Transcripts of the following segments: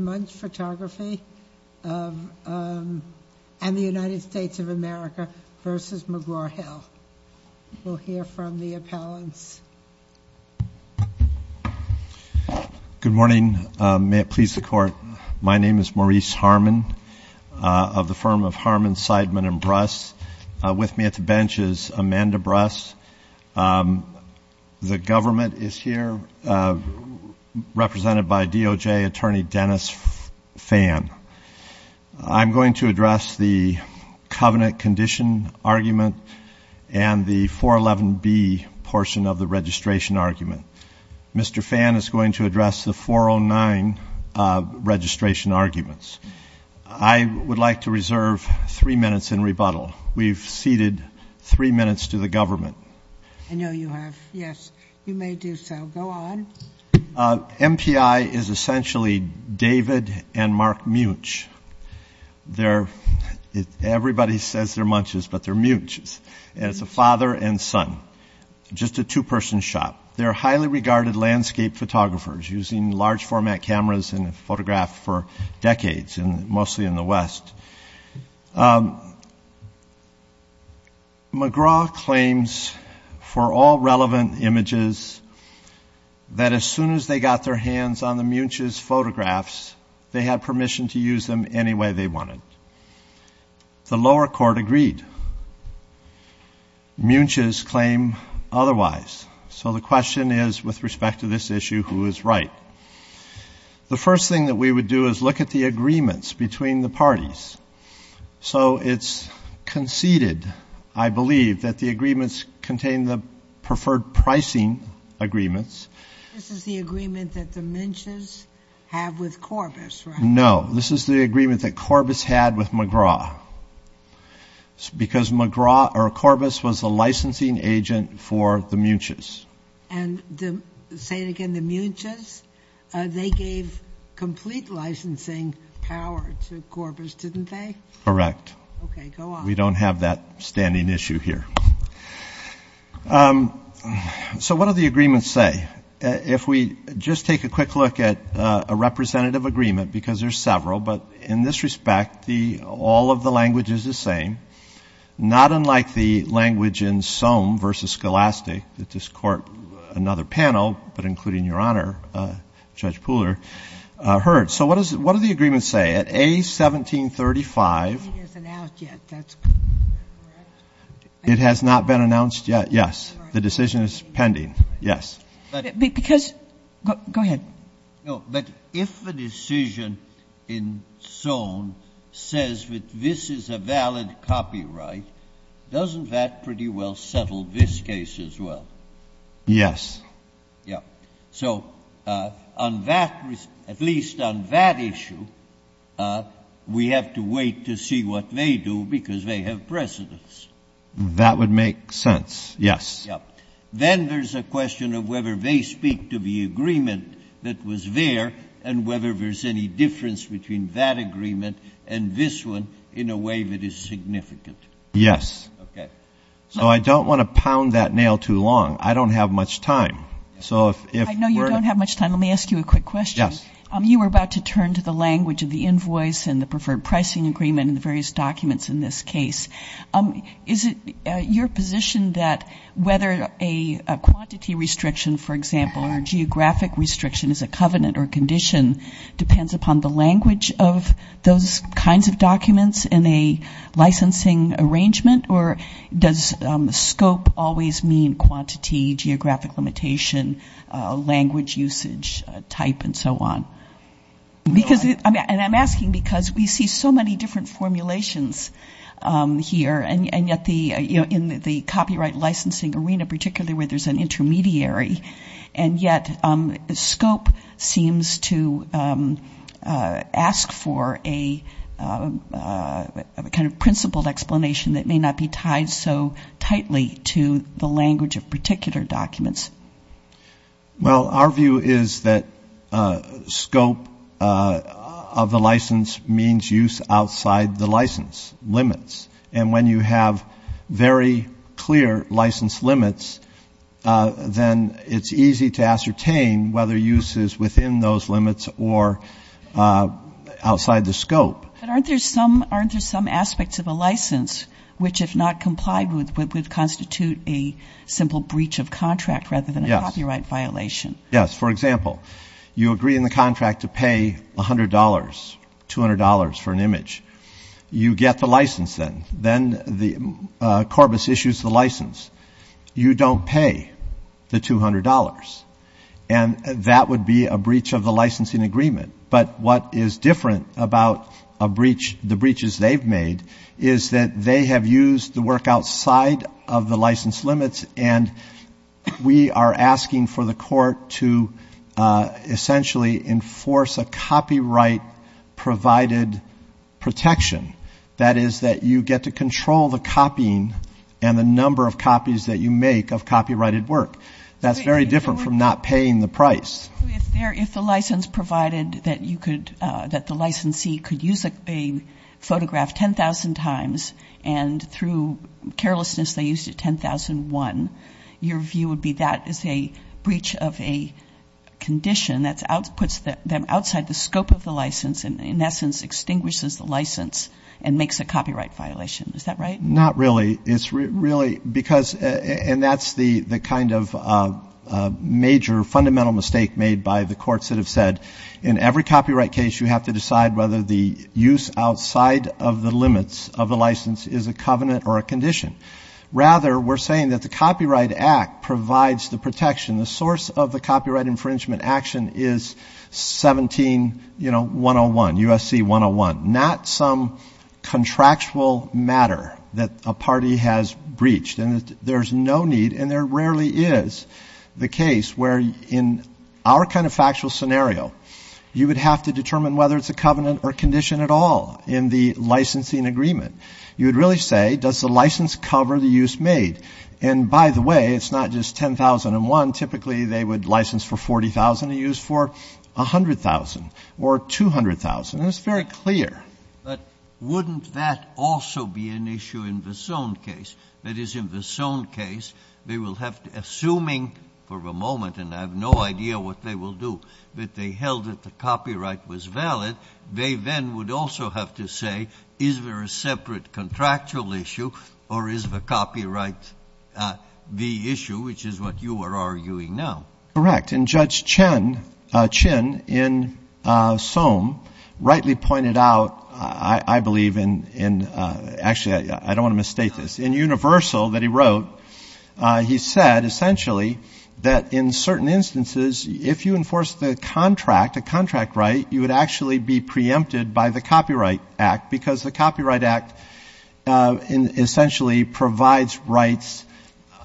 Muench Photography, Inc. v. McGraw-Hill, Inc. Good morning. May it please the Court, my name is Maurice Harmon of the firm of Harmon, Seidman & Bruss. With me at the bench is Amanda Bruss. The government is here, represented by DOJ attorney Dennis Phan. I'm going to address the covenant condition argument and the 411B portion of the registration argument. Mr. Phan is going to address the 409 registration arguments. I would like to reserve three minutes in rebuttal. We've ceded three minutes to the government. I know you have. Yes, you may do so. Go on. MPI is essentially David and Mark Muench. Everybody says they're Muenches, but they're Muenches. It's a father and son, just a two-person shop. They're highly regarded landscape photographers, using large-format cameras in a photograph for decades, mostly in the West. McGraw claims for all relevant images that as soon as they got their hands on the Muenches photographs, they had permission to use them any way they wanted. The lower court agreed. Muenches claim otherwise. So the question is, with respect to this issue, who is right? The first thing that we would do is look at the agreements between the parties. So it's conceded, I believe, that the agreements contain the preferred pricing agreements. This is the agreement that the Muenches have with Corbis, right? No, this is the agreement that Corbis had with McGraw because Corbis was the licensing agent for the Muenches. And say it again, the Muenches, they gave complete licensing power to Corbis, didn't they? Correct. Okay, go on. We don't have that standing issue here. So what do the agreements say? If we just take a quick look at a representative agreement, because there's several, but in this respect all of the language is the same, not unlike the language in Soam v. Scholastic that this court, another panel, but including Your Honor, Judge Pooler, heard. So what do the agreements say? At A1735 ---- It isn't out yet. That's correct. It has not been announced yet, yes. The decision is pending, yes. Because ---- Go ahead. No, but if a decision in Soam says that this is a valid copyright, doesn't that pretty well settle this case as well? Yes. Yes. So on that, at least on that issue, we have to wait to see what they do because they have precedence. That would make sense, yes. Then there's a question of whether they speak to the agreement that was there and whether there's any difference between that agreement and this one in a way that is significant. Yes. Okay. So I don't want to pound that nail too long. I don't have much time. So if we're ---- I know you don't have much time. Let me ask you a quick question. Yes. You were about to turn to the language of the invoice and the preferred pricing agreement and the various documents in this case. Is it your position that whether a quantity restriction, for example, or a geographic restriction is a covenant or condition depends upon the language of those kinds of documents in a licensing arrangement? Or does scope always mean quantity, geographic limitation, language usage, type, and so on? And I'm asking because we see so many different formulations here, and yet in the copyright licensing arena, particularly where there's an intermediary, and yet scope seems to ask for a kind of principled explanation that may not be tied so tightly to the language of particular documents. Well, our view is that scope of the license means use outside the license limits. And when you have very clear license limits, then it's easy to ascertain whether use is within those limits or outside the scope. But aren't there some aspects of a license which, if not complied with, would constitute a simple breach of contract rather than a copyright violation? Yes. For example, you agree in the contract to pay $100, $200 for an image. You get the license then. Then the corpus issues the license. You don't pay the $200. And that would be a breach of the licensing agreement. But what is different about a breach, the breaches they've made, is that they have used the work outside of the license limits, and we are asking for the court to essentially enforce a copyright-provided protection. That is that you get to control the copying and the number of copies that you make of copyrighted work. That's very different from not paying the price. If the license provided that the licensee could use a photograph 10,000 times, and through carelessness they used it 10,001, your view would be that is a breach of a condition that puts them outside the scope of the license and, in essence, extinguishes the license and makes a copyright violation. Is that right? Not really. And that's the kind of major fundamental mistake made by the courts that have said in every copyright case you have to decide whether the use outside of the limits of the license is a covenant or a condition. Rather, we're saying that the Copyright Act provides the protection. The source of the copyright infringement action is 17-101, USC 101, not some contractual matter that a party has breached. And there's no need, and there rarely is, the case where, in our kind of factual scenario, you would have to determine whether it's a covenant or condition at all in the licensing agreement. You would really say, does the license cover the use made? And, by the way, it's not just 10,001. Typically, they would license for 40,000 to use for 100,000 or 200,000. It's very clear. But wouldn't that also be an issue in the Sohn case? That is, in the Sohn case, they will have to, assuming, for the moment, and I have no idea what they will do, that they held that the copyright was valid, they then would also have to say, is there a separate contractual issue or is the copyright the issue, which is what you are arguing now? Correct. And Judge Chin in Sohn rightly pointed out, I believe in, actually, I don't want to misstate this, in Universal that he wrote, he said, essentially, that in certain instances, if you enforce the contract, a contract right, you would actually be preempted by the Copyright Act because the Copyright Act essentially provides rights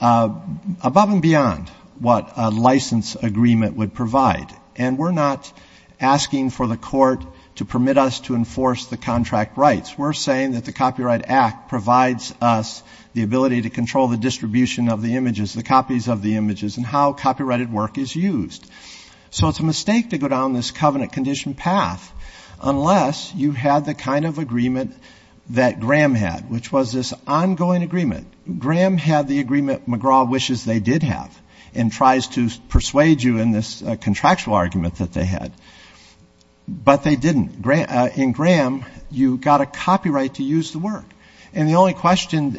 above and beyond what a license agreement would provide. And we're not asking for the court to permit us to enforce the contract rights. We're saying that the Copyright Act provides us the ability to control the distribution of the images, the copies of the images, and how copyrighted work is used. So it's a mistake to go down this covenant condition path unless you have the kind of agreement that Graham had, which was this ongoing agreement. Graham had the agreement McGraw wishes they did have and tries to persuade you in this contractual argument that they had. But they didn't. In Graham, you got a copyright to use the work. And the only question,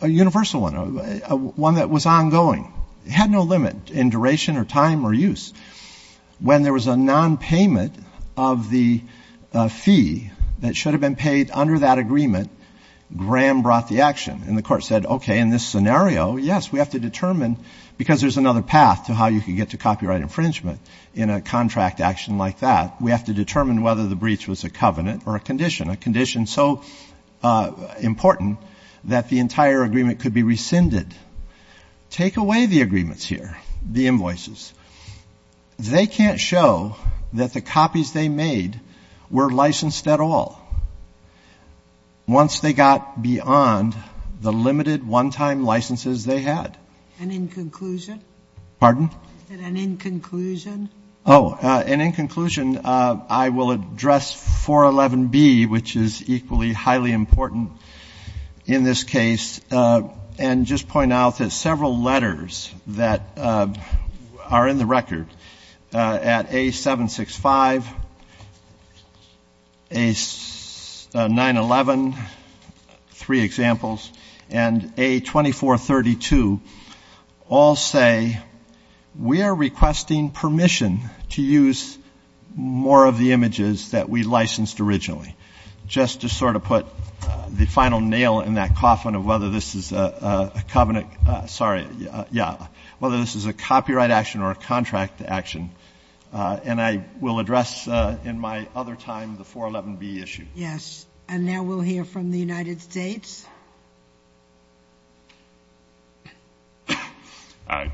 a universal one, one that was ongoing, had no limit in duration or time or use. When there was a nonpayment of the fee that should have been paid under that agreement, Graham brought the action. And the court said, okay, in this scenario, yes, we have to determine, because there's another path to how you can get to copyright infringement in a contract action like that, we have to determine whether the breach was a covenant or a condition. A condition so important that the entire agreement could be rescinded. Take away the agreements here, the invoices. They can't show that the copies they made were licensed at all once they got beyond the limited one-time licenses they had. And in conclusion? Pardon? And in conclusion? Oh, and in conclusion, I will address 411B, which is equally highly important in this case, and just point out that several letters that are in the record at A765, A911, three examples, and A2432 all say we are requesting permission to use more of the images that we licensed originally, just to sort of put the final nail in that coffin of whether this is a covenant, sorry, yeah, whether this is a copyright action or a contract action. And I will address in my other time the 411B issue. Yes. And now we'll hear from the United States.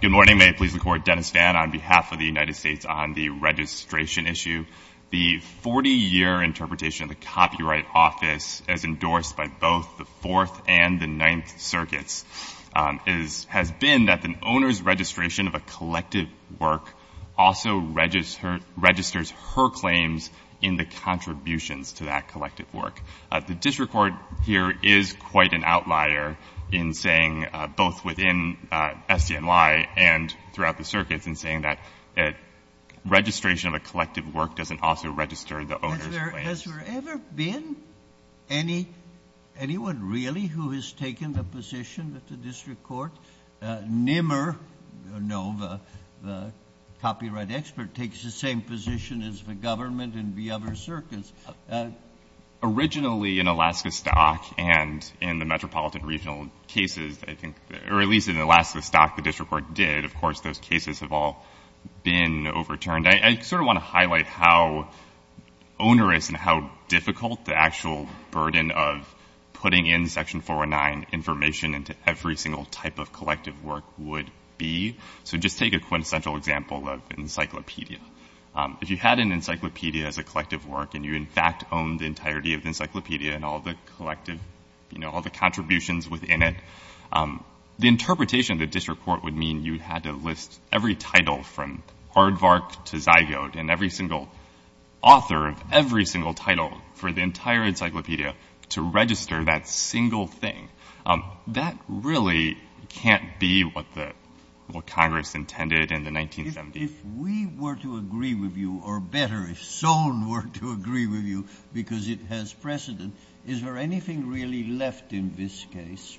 Good morning. May it please the Court. Dennis Vann on behalf of the United States on the registration issue. The 40-year interpretation of the Copyright Office as endorsed by both the Fourth and the Ninth Circuits has been that the owner's registration of a collective work also registers her claims in the contributions to that collective work. The district court here is quite an outlier in saying, both within SDNY and throughout the circuits, in saying that registration of a collective work doesn't also register the owner's claims. Has there ever been anyone really who has taken the position that the district court, NMR, the copyright expert, takes the same position as the government and the other circuits? Originally in Alaska Stock and in the metropolitan regional cases, I think, or at least in Alaska Stock, the district court did. Of course, those cases have all been overturned. I sort of want to highlight how onerous and how difficult the actual burden of putting in Section 409 information into every single type of collective work would be. So just take a quintessential example of an encyclopedia. If you had an encyclopedia as a collective work and you, in fact, owned the entirety of the encyclopedia and all the collective, you know, all the contributions within it, the interpretation of the district court would mean you had to list every title from Hardvark to Zygote and every single author of every single title for the entire encyclopedia to register that single thing. That really can't be what Congress intended in the 1970s. If we were to agree with you, or better, if Sohn were to agree with you because it has precedent, is there anything really left in this case?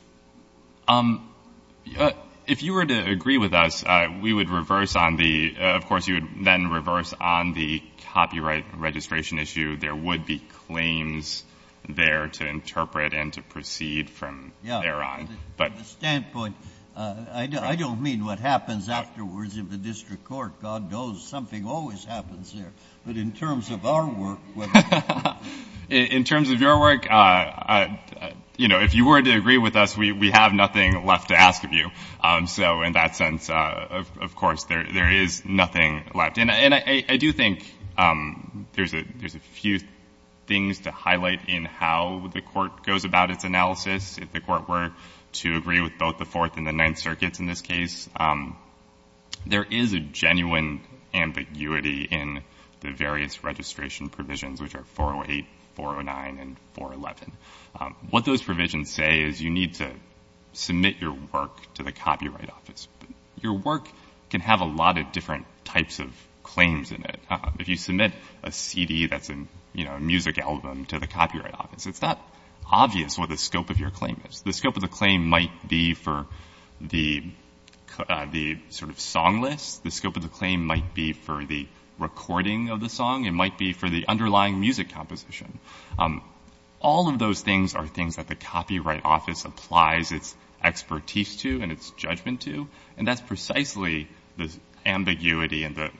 If you were to agree with us, we would reverse on the, of course, you would then reverse on the copyright registration issue. There would be claims there to interpret and to proceed from thereon. From the standpoint, I don't mean what happens afterwards in the district court. God knows something always happens there. But in terms of our work. In terms of your work, you know, if you were to agree with us, we have nothing left to ask of you. So in that sense, of course, there is nothing left. And I do think there's a few things to highlight in how the court goes about its analysis. If the court were to agree with both the Fourth and the Ninth Circuits in this case, there is a genuine ambiguity in the various registration provisions, which are 408, 409, and 411. What those provisions say is you need to submit your work to the Copyright Office. Your work can have a lot of different types of claims in it. If you submit a CD that's a music album to the Copyright Office, it's not obvious what the scope of your claim is. The scope of the claim might be for the sort of song list. The scope of the claim might be for the recording of the song. It might be for the underlying music composition. All of those things are things that the Copyright Office applies its expertise to and its judgment to. And that's precisely the ambiguity that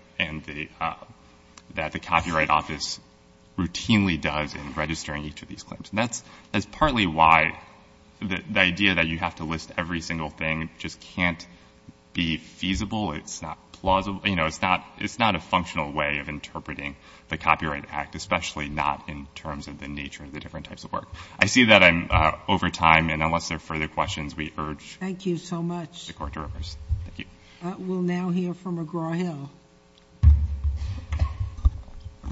the Copyright Office routinely does in registering each of these claims. That's partly why the idea that you have to list every single thing just can't be feasible. It's not plausible. You know, it's not a functional way of interpreting the Copyright Act, especially not in terms of the nature of the different types of work. I see that I'm over time, and unless there are further questions, we urge the Court to reverse. Thank you. We'll now hear from McGraw-Hill.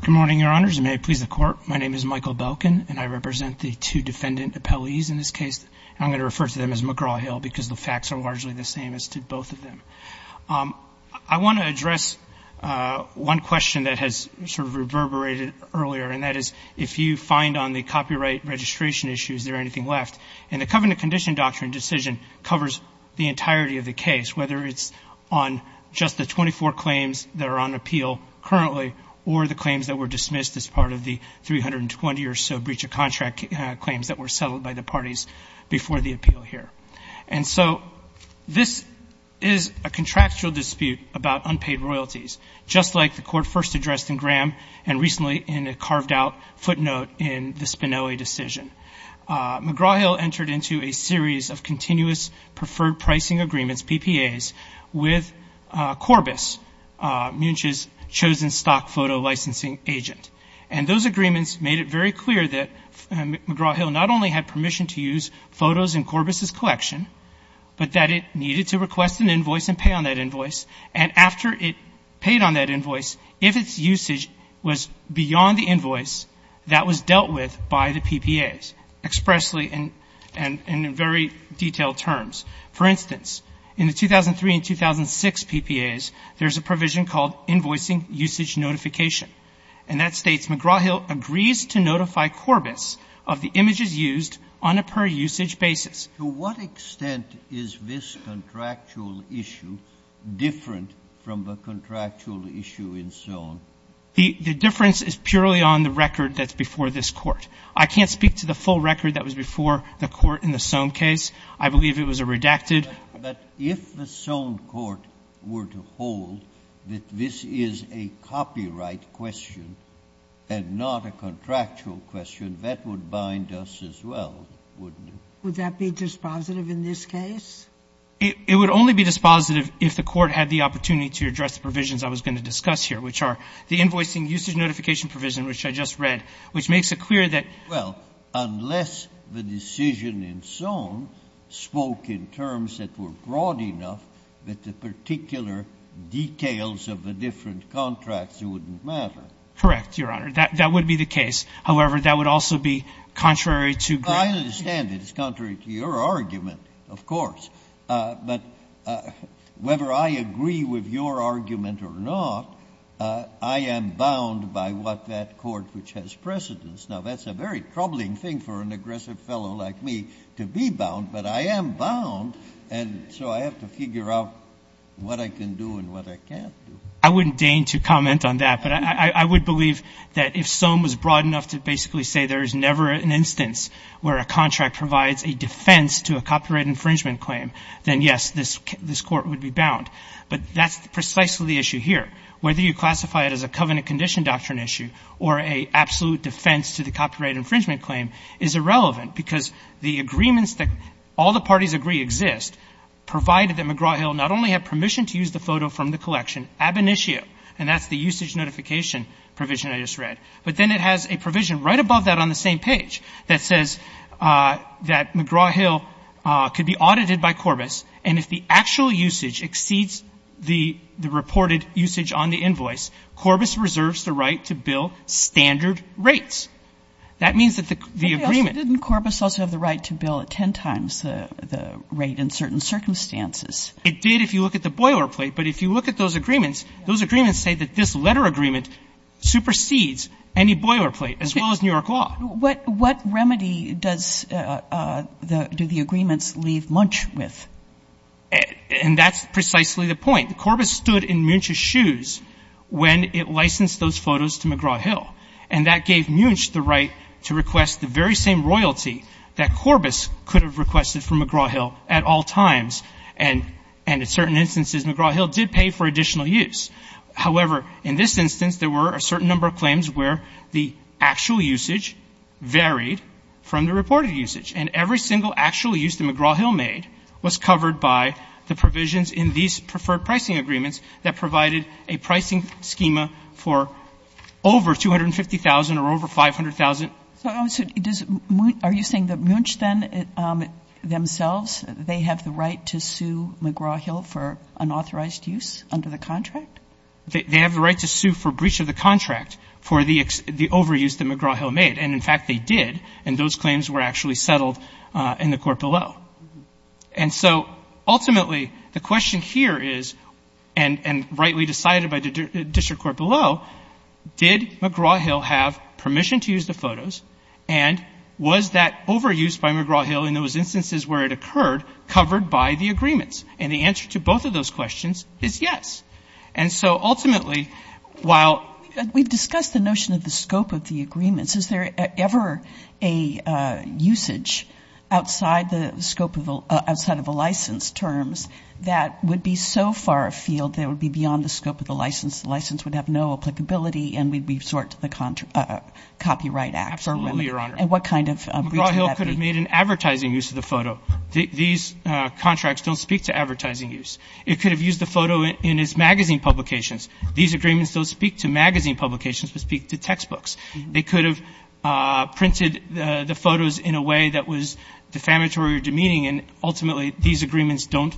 Good morning, Your Honors, and may it please the Court. My name is Michael Belkin, and I represent the two defendant appellees in this case. I'm going to refer to them as McGraw-Hill because the facts are largely the same as to both of them. I want to address one question that has sort of reverberated earlier, and that is if you find on the copyright registration issues there anything left. And the Covenant Condition Doctrine decision covers the entirety of the case, whether it's on just the 24 claims that are on appeal currently or the claims that were dismissed as part of the 320 or so breach of contract claims that were settled by the parties before the appeal here. And so this is a contractual dispute about unpaid royalties, just like the Court first addressed in Graham and recently in a carved-out footnote in the Spinelli decision. McGraw-Hill entered into a series of continuous preferred pricing agreements, PPAs, with Corbis, Munch's chosen stock photo licensing agent. And those agreements made it very clear that McGraw-Hill not only had permission to use photos in Corbis's collection, but that it needed to request an invoice and pay on that invoice. And after it paid on that invoice, if its usage was beyond the invoice, that was dealt with by the PPAs expressly and in very detailed terms. For instance, in the 2003 and 2006 PPAs, there's a provision called Invoicing Usage Notification, and that states McGraw-Hill agrees to notify Corbis of the images used on a per-usage basis. To what extent is this contractual issue different from the contractual issue in Sohm? The difference is purely on the record that's before this Court. I can't speak to the full record that was before the Court in the Sohm case. I believe it was a redacted. But if the Sohm Court were to hold that this is a copyright question and not a contractual question, that would bind us as well, wouldn't it? Would that be dispositive in this case? It would only be dispositive if the Court had the opportunity to address the provisions I was going to discuss here, which are the Invoicing Usage Notification provision, which I just read, which makes it clear that Well, unless the decision in Sohm spoke in terms that were broad enough that the particular details of the different contracts wouldn't matter. Correct, Your Honor. That would be the case. However, that would also be contrary to granted. I understand it's contrary to your argument, of course. But whether I agree with your argument or not, I am bound by what that Court which has precedence. Now, that's a very troubling thing for an aggressive fellow like me to be bound. But I am bound, and so I have to figure out what I can do and what I can't do. I wouldn't deign to comment on that. But I would believe that if Sohm was broad enough to basically say there is never an instance where a contract provides a defense to a copyright infringement claim, then, yes, this Court would be bound. But that's precisely the issue here, whether you classify it as a covenant condition doctrine issue or a absolute defense to the copyright infringement claim is irrelevant, because the agreements that all the parties agree exist, provided that McGraw-Hill not only had permission to use the photo from the collection ab initio, and that's the usage notification provision I just read, but then it has a provision right above that on the same page that says that McGraw-Hill could be audited by Corbis, and if the actual usage exceeds the reported usage on the invoice, Corbis reserves the right to bill standard rates. That means that the agreement — But didn't Corbis also have the right to bill ten times the rate in certain circumstances? It did if you look at the boilerplate. But if you look at those agreements, those agreements say that this letter agreement supersedes any boilerplate, as well as New York law. What remedy does the — do the agreements leave Munch with? And that's precisely the point. Corbis stood in Munch's shoes when it licensed those photos to McGraw-Hill, and that gave Munch the right to request the very same royalty that Corbis could have requested from McGraw-Hill at all times, and in certain instances, McGraw-Hill did pay for additional use. However, in this instance, there were a certain number of claims where the actual usage varied from the reported usage, and every single actual use that McGraw-Hill made was covered by the provisions in these preferred pricing agreements that provided a pricing schema for over $250,000 or over $500,000. So are you saying that Munch, then, themselves, they have the right to sue McGraw-Hill for unauthorized use under the contract? They have the right to sue for breach of the contract for the overuse that McGraw-Hill made. And, in fact, they did, and those claims were actually settled in the court below. And so, ultimately, the question here is, and rightly decided by the district court below, did McGraw-Hill have permission to use the photos, and was that overuse by McGraw-Hill in those instances where it occurred covered by the agreements? And the answer to both of those questions is yes. And so, ultimately, while we've discussed the notion of the scope of the agreements, is there ever a usage outside the scope of the license terms that would be so far afield that it would be beyond the scope of the license, the license would have no applicability, and we'd resort to the Copyright Act? Absolutely, Your Honor. And what kind of reason would that be? McGraw-Hill could have made an advertising use of the photo. These contracts don't speak to advertising use. It could have used the photo in its magazine publications. These agreements don't speak to magazine publications, but speak to textbooks. They could have printed the photos in a way that was defamatory or demeaning, and, ultimately, these agreements don't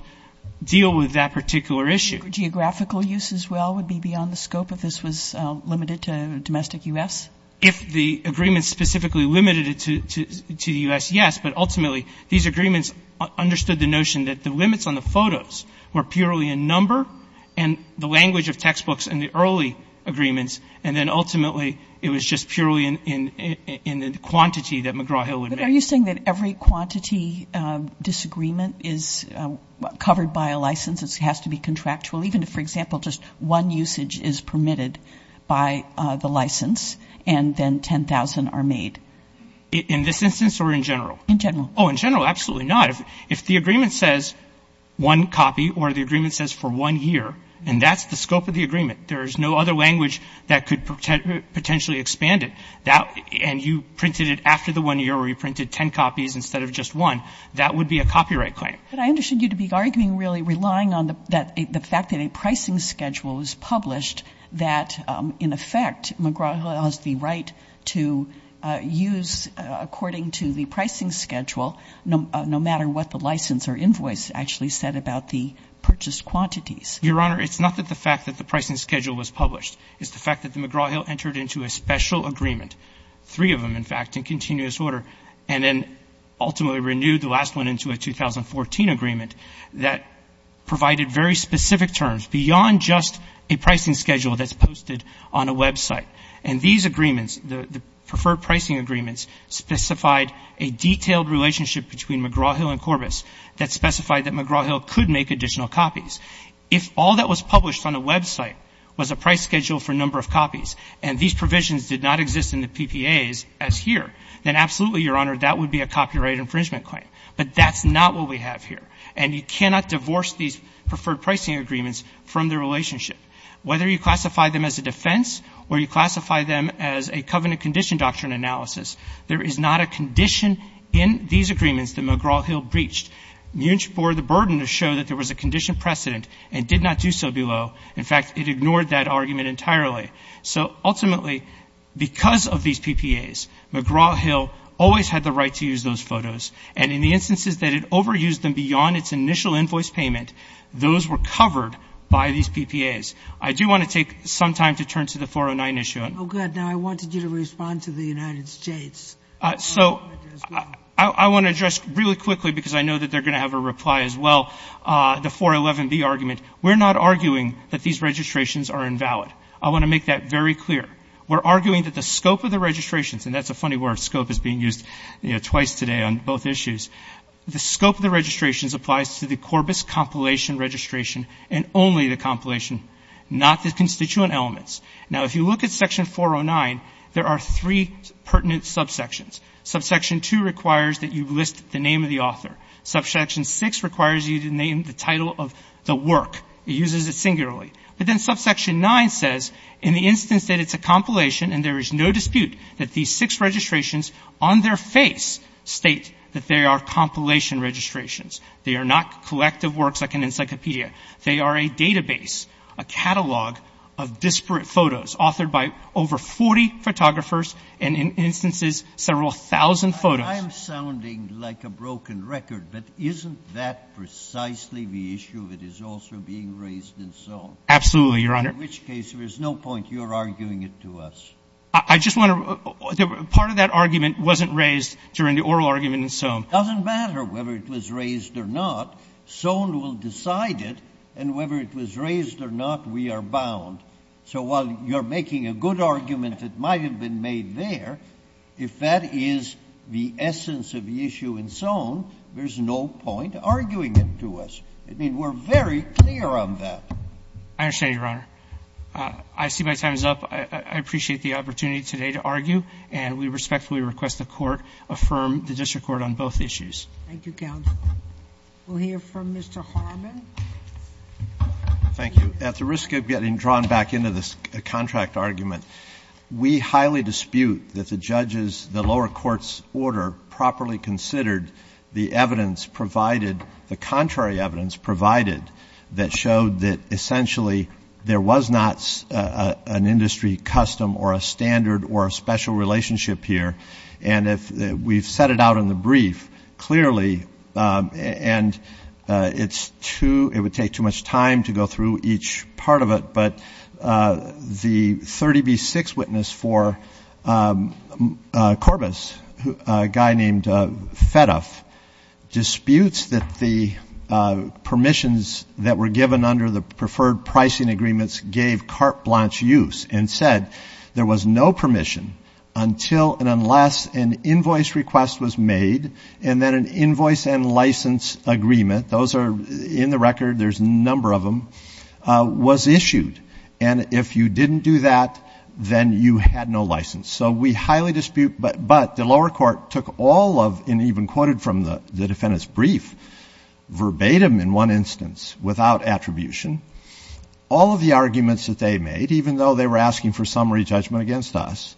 deal with that particular issue. Geographical use as well would be beyond the scope if this was limited to domestic U.S.? If the agreement specifically limited it to the U.S., yes. But, ultimately, these agreements understood the notion that the limits on the photos were purely in number and the language of textbooks in the early agreements, and then, ultimately, it was just purely in the quantity that McGraw-Hill would make. But are you saying that every quantity disagreement is covered by a license? It has to be contractual, even if, for example, just one usage is permitted by the license and then 10,000 are made? In this instance or in general? In general. Oh, in general, absolutely not. If the agreement says one copy or the agreement says for one year, and that's the scope of the agreement, there is no other language that could potentially expand it, and you printed it after the one year or you printed 10 copies instead of just one, that would be a copyright claim. But I understood you to be arguing really relying on the fact that a pricing schedule was published that, in effect, McGraw-Hill has the right to use, according to the pricing schedule, no matter what the license or invoice actually said about the purchased quantities. Your Honor, it's not that the fact that the pricing schedule was published. It's the fact that McGraw-Hill entered into a special agreement, three of them, in fact, in continuous order, and then ultimately renewed the last one into a 2014 agreement that provided very specific terms, beyond just a pricing schedule that's posted on a website. And these agreements, the preferred pricing agreements, specified a detailed relationship between McGraw-Hill and Corbis that specified that McGraw-Hill could make additional copies. If all that was published on a website was a price schedule for a number of copies and these provisions did not exist in the PPAs as here, then absolutely, Your Honor, that would be a copyright infringement claim. But that's not what we have here. And you cannot divorce these preferred pricing agreements from their relationship. Whether you classify them as a defense or you classify them as a covenant condition doctrine analysis, there is not a condition in these agreements that McGraw-Hill breached. MUNCH bore the burden to show that there was a condition precedent and did not do so below. In fact, it ignored that argument entirely. So ultimately, because of these PPAs, McGraw-Hill always had the right to use those photos. And in the instances that it overused them beyond its initial invoice payment, those were covered by these PPAs. I do want to take some time to turn to the 409 issue. Oh, good. Now, I wanted you to respond to the United States. So I want to address really quickly, because I know that they're going to have a reply as well, the 411B argument. We're not arguing that these registrations are invalid. I want to make that very clear. We're arguing that the scope of the registrations, and that's a funny word, scope is being used twice today on both issues. The scope of the registrations applies to the Corbis compilation registration and only the compilation, not the constituent elements. Now, if you look at Section 409, there are three pertinent subsections. Subsection 2 requires that you list the name of the author. Subsection 6 requires you to name the title of the work. It uses it singularly. But then Subsection 9 says, in the instance that it's a compilation and there is no dispute that these six registrations on their face state that they are compilation registrations. They are not collective works like an encyclopedia. They are a database, a catalog of disparate photos authored by over 40 photographers and in instances several thousand photos. I'm sounding like a broken record, but isn't that precisely the issue that is also being raised and so on? Absolutely, Your Honor. In which case, there is no point. You're arguing it to us. I just want to — part of that argument wasn't raised during the oral argument in Soane. It doesn't matter whether it was raised or not. Soane will decide it, and whether it was raised or not, we are bound. So while you're making a good argument that might have been made there, if that is the essence of the issue in Soane, there's no point arguing it to us. I mean, we're very clear on that. I understand, Your Honor. I see my time is up. I appreciate the opportunity today to argue. And we respectfully request the Court affirm the district court on both issues. Thank you, counsel. We'll hear from Mr. Harmon. Thank you. At the risk of getting drawn back into this contract argument, we highly dispute that the judges in the lower court's order properly considered the evidence provided, the contrary evidence provided, that showed that essentially there was not an industry custom or a standard or a special relationship here. And we've set it out in the brief clearly, and it would take too much time to go through each part of it. But the 30B6 witness for Corbis, a guy named Fedoff, disputes that the permissions that were given under the preferred pricing agreements gave carte blanche use and said there was no permission until and unless an invoice request was made and then an invoice and license agreement, those are in the record, there's a number of them, was issued. And if you didn't do that, then you had no license. So we highly dispute. But the lower court took all of, and even quoted from the defendant's brief, verbatim in one instance without attribution, all of the arguments that they made, even though they were asking for summary judgment against us,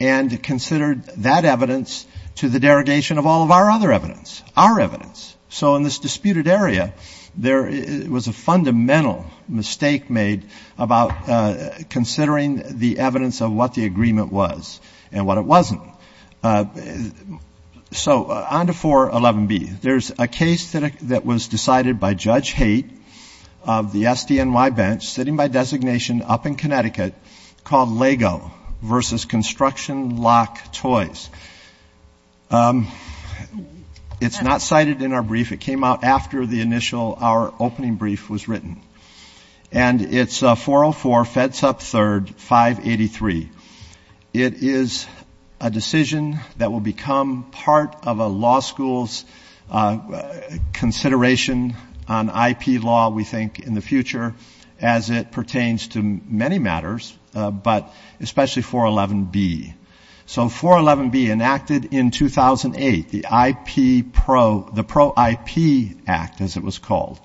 and considered that evidence to the derogation of all of our other evidence, our evidence. So in this disputed area, there was a fundamental mistake made about considering the evidence of what the agreement was and what it wasn't. So on to 411B. There's a case that was decided by Judge Haidt of the SDNY bench, sitting by designation up in Connecticut, called Lego v. Construction Lock Toys. It's not cited in our brief. It came out after the initial, our opening brief was written. And it's 404 FEDSUP III, 583. It is a decision that will become part of a law school's consideration on IP law, we think, in the future, as it pertains to many matters, but especially 411B. So 411B, enacted in 2008, the IP Pro, the Pro IP Act, as it was called,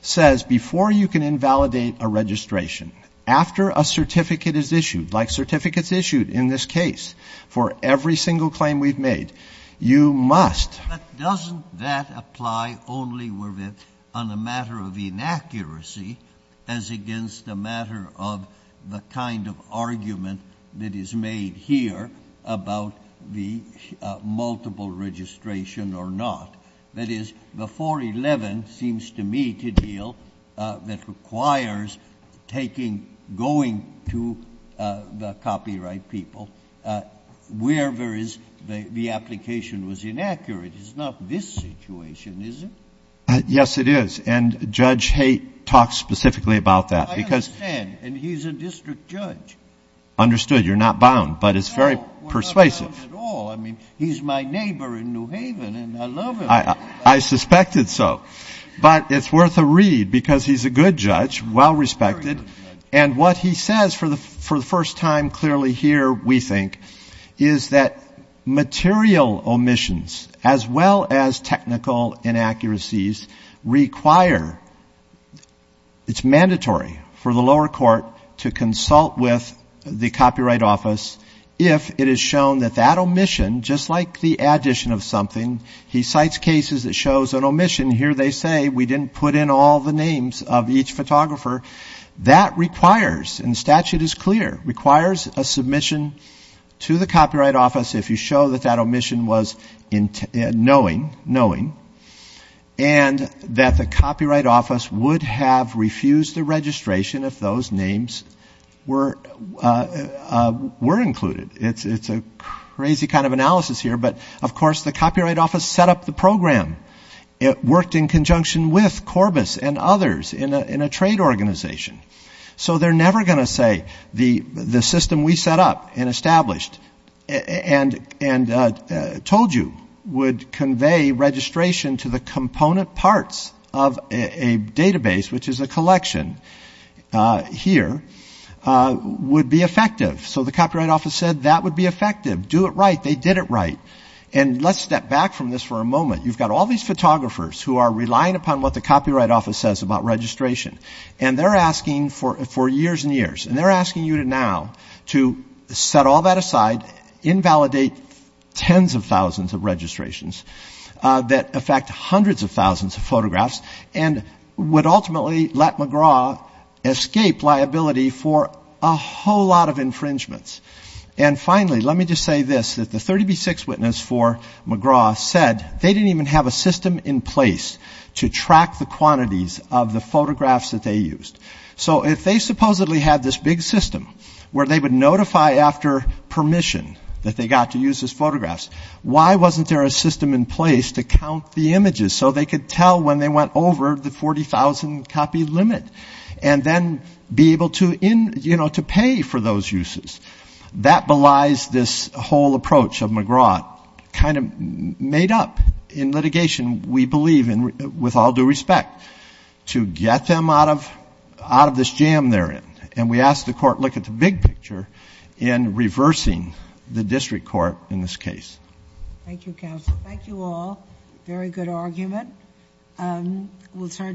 says before you can invalidate a registration, after a certificate is issued, like certificates issued in this case for every single claim we've made, you must. But doesn't that apply only on a matter of inaccuracy, as against a matter of the kind of argument that is made here about the multiple registration or not? That is, the 411 seems to me to deal, that requires taking, going to the copyright people, wherever the application was inaccurate. It's not this situation, is it? Yes, it is. And Judge Haight talks specifically about that. I understand. And he's a district judge. You're not bound, but it's very persuasive. No, we're not bound at all. I mean, he's my neighbor in New Haven, and I love him. I suspected so. But it's worth a read, because he's a good judge, well-respected. And what he says for the first time clearly here, we think, is that material omissions as well as technical inaccuracies require, it's mandatory for the lower court to consult with the Copyright Office if it is shown that that omission, just like the addition of something, he cites cases that shows an omission. Here they say, we didn't put in all the names of each photographer. That requires, and the statute is clear, requires a submission to the Copyright Office if you show that that omission was knowing, and that the Copyright Office would have refused the registration if those names were included. It's a crazy kind of analysis here. But, of course, the Copyright Office set up the program. It worked in conjunction with Corbis and others in a trade organization. So they're never going to say the system we set up and established and told you would convey registration to the component parts of a database, which is a collection here, would be effective. So the Copyright Office said that would be effective. Do it right. They did it right. And let's step back from this for a moment. You've got all these photographers who are relying upon what the Copyright Office says about registration, and they're asking for years and years, and they're asking you now to set all that aside, invalidate tens of thousands of registrations that affect hundreds of thousands of photographs, and would ultimately let McGraw escape liability for a whole lot of infringements. And, finally, let me just say this, that the 30B6 witness for McGraw said they didn't even have a system in place to track the quantities of the photographs that they used. So if they supposedly had this big system where they would notify after permission that they got to use these photographs, why wasn't there a system in place to count the images so they could tell when they went over the 40,000-copy limit and then be able to pay for those uses? That belies this whole approach of McGraw, kind of made up in litigation, we believe, with all due respect, to get them out of this jam they're in. And we ask the Court to look at the big picture in reversing the district court in this case. Thank you, Counsel. Thank you all. Very good argument.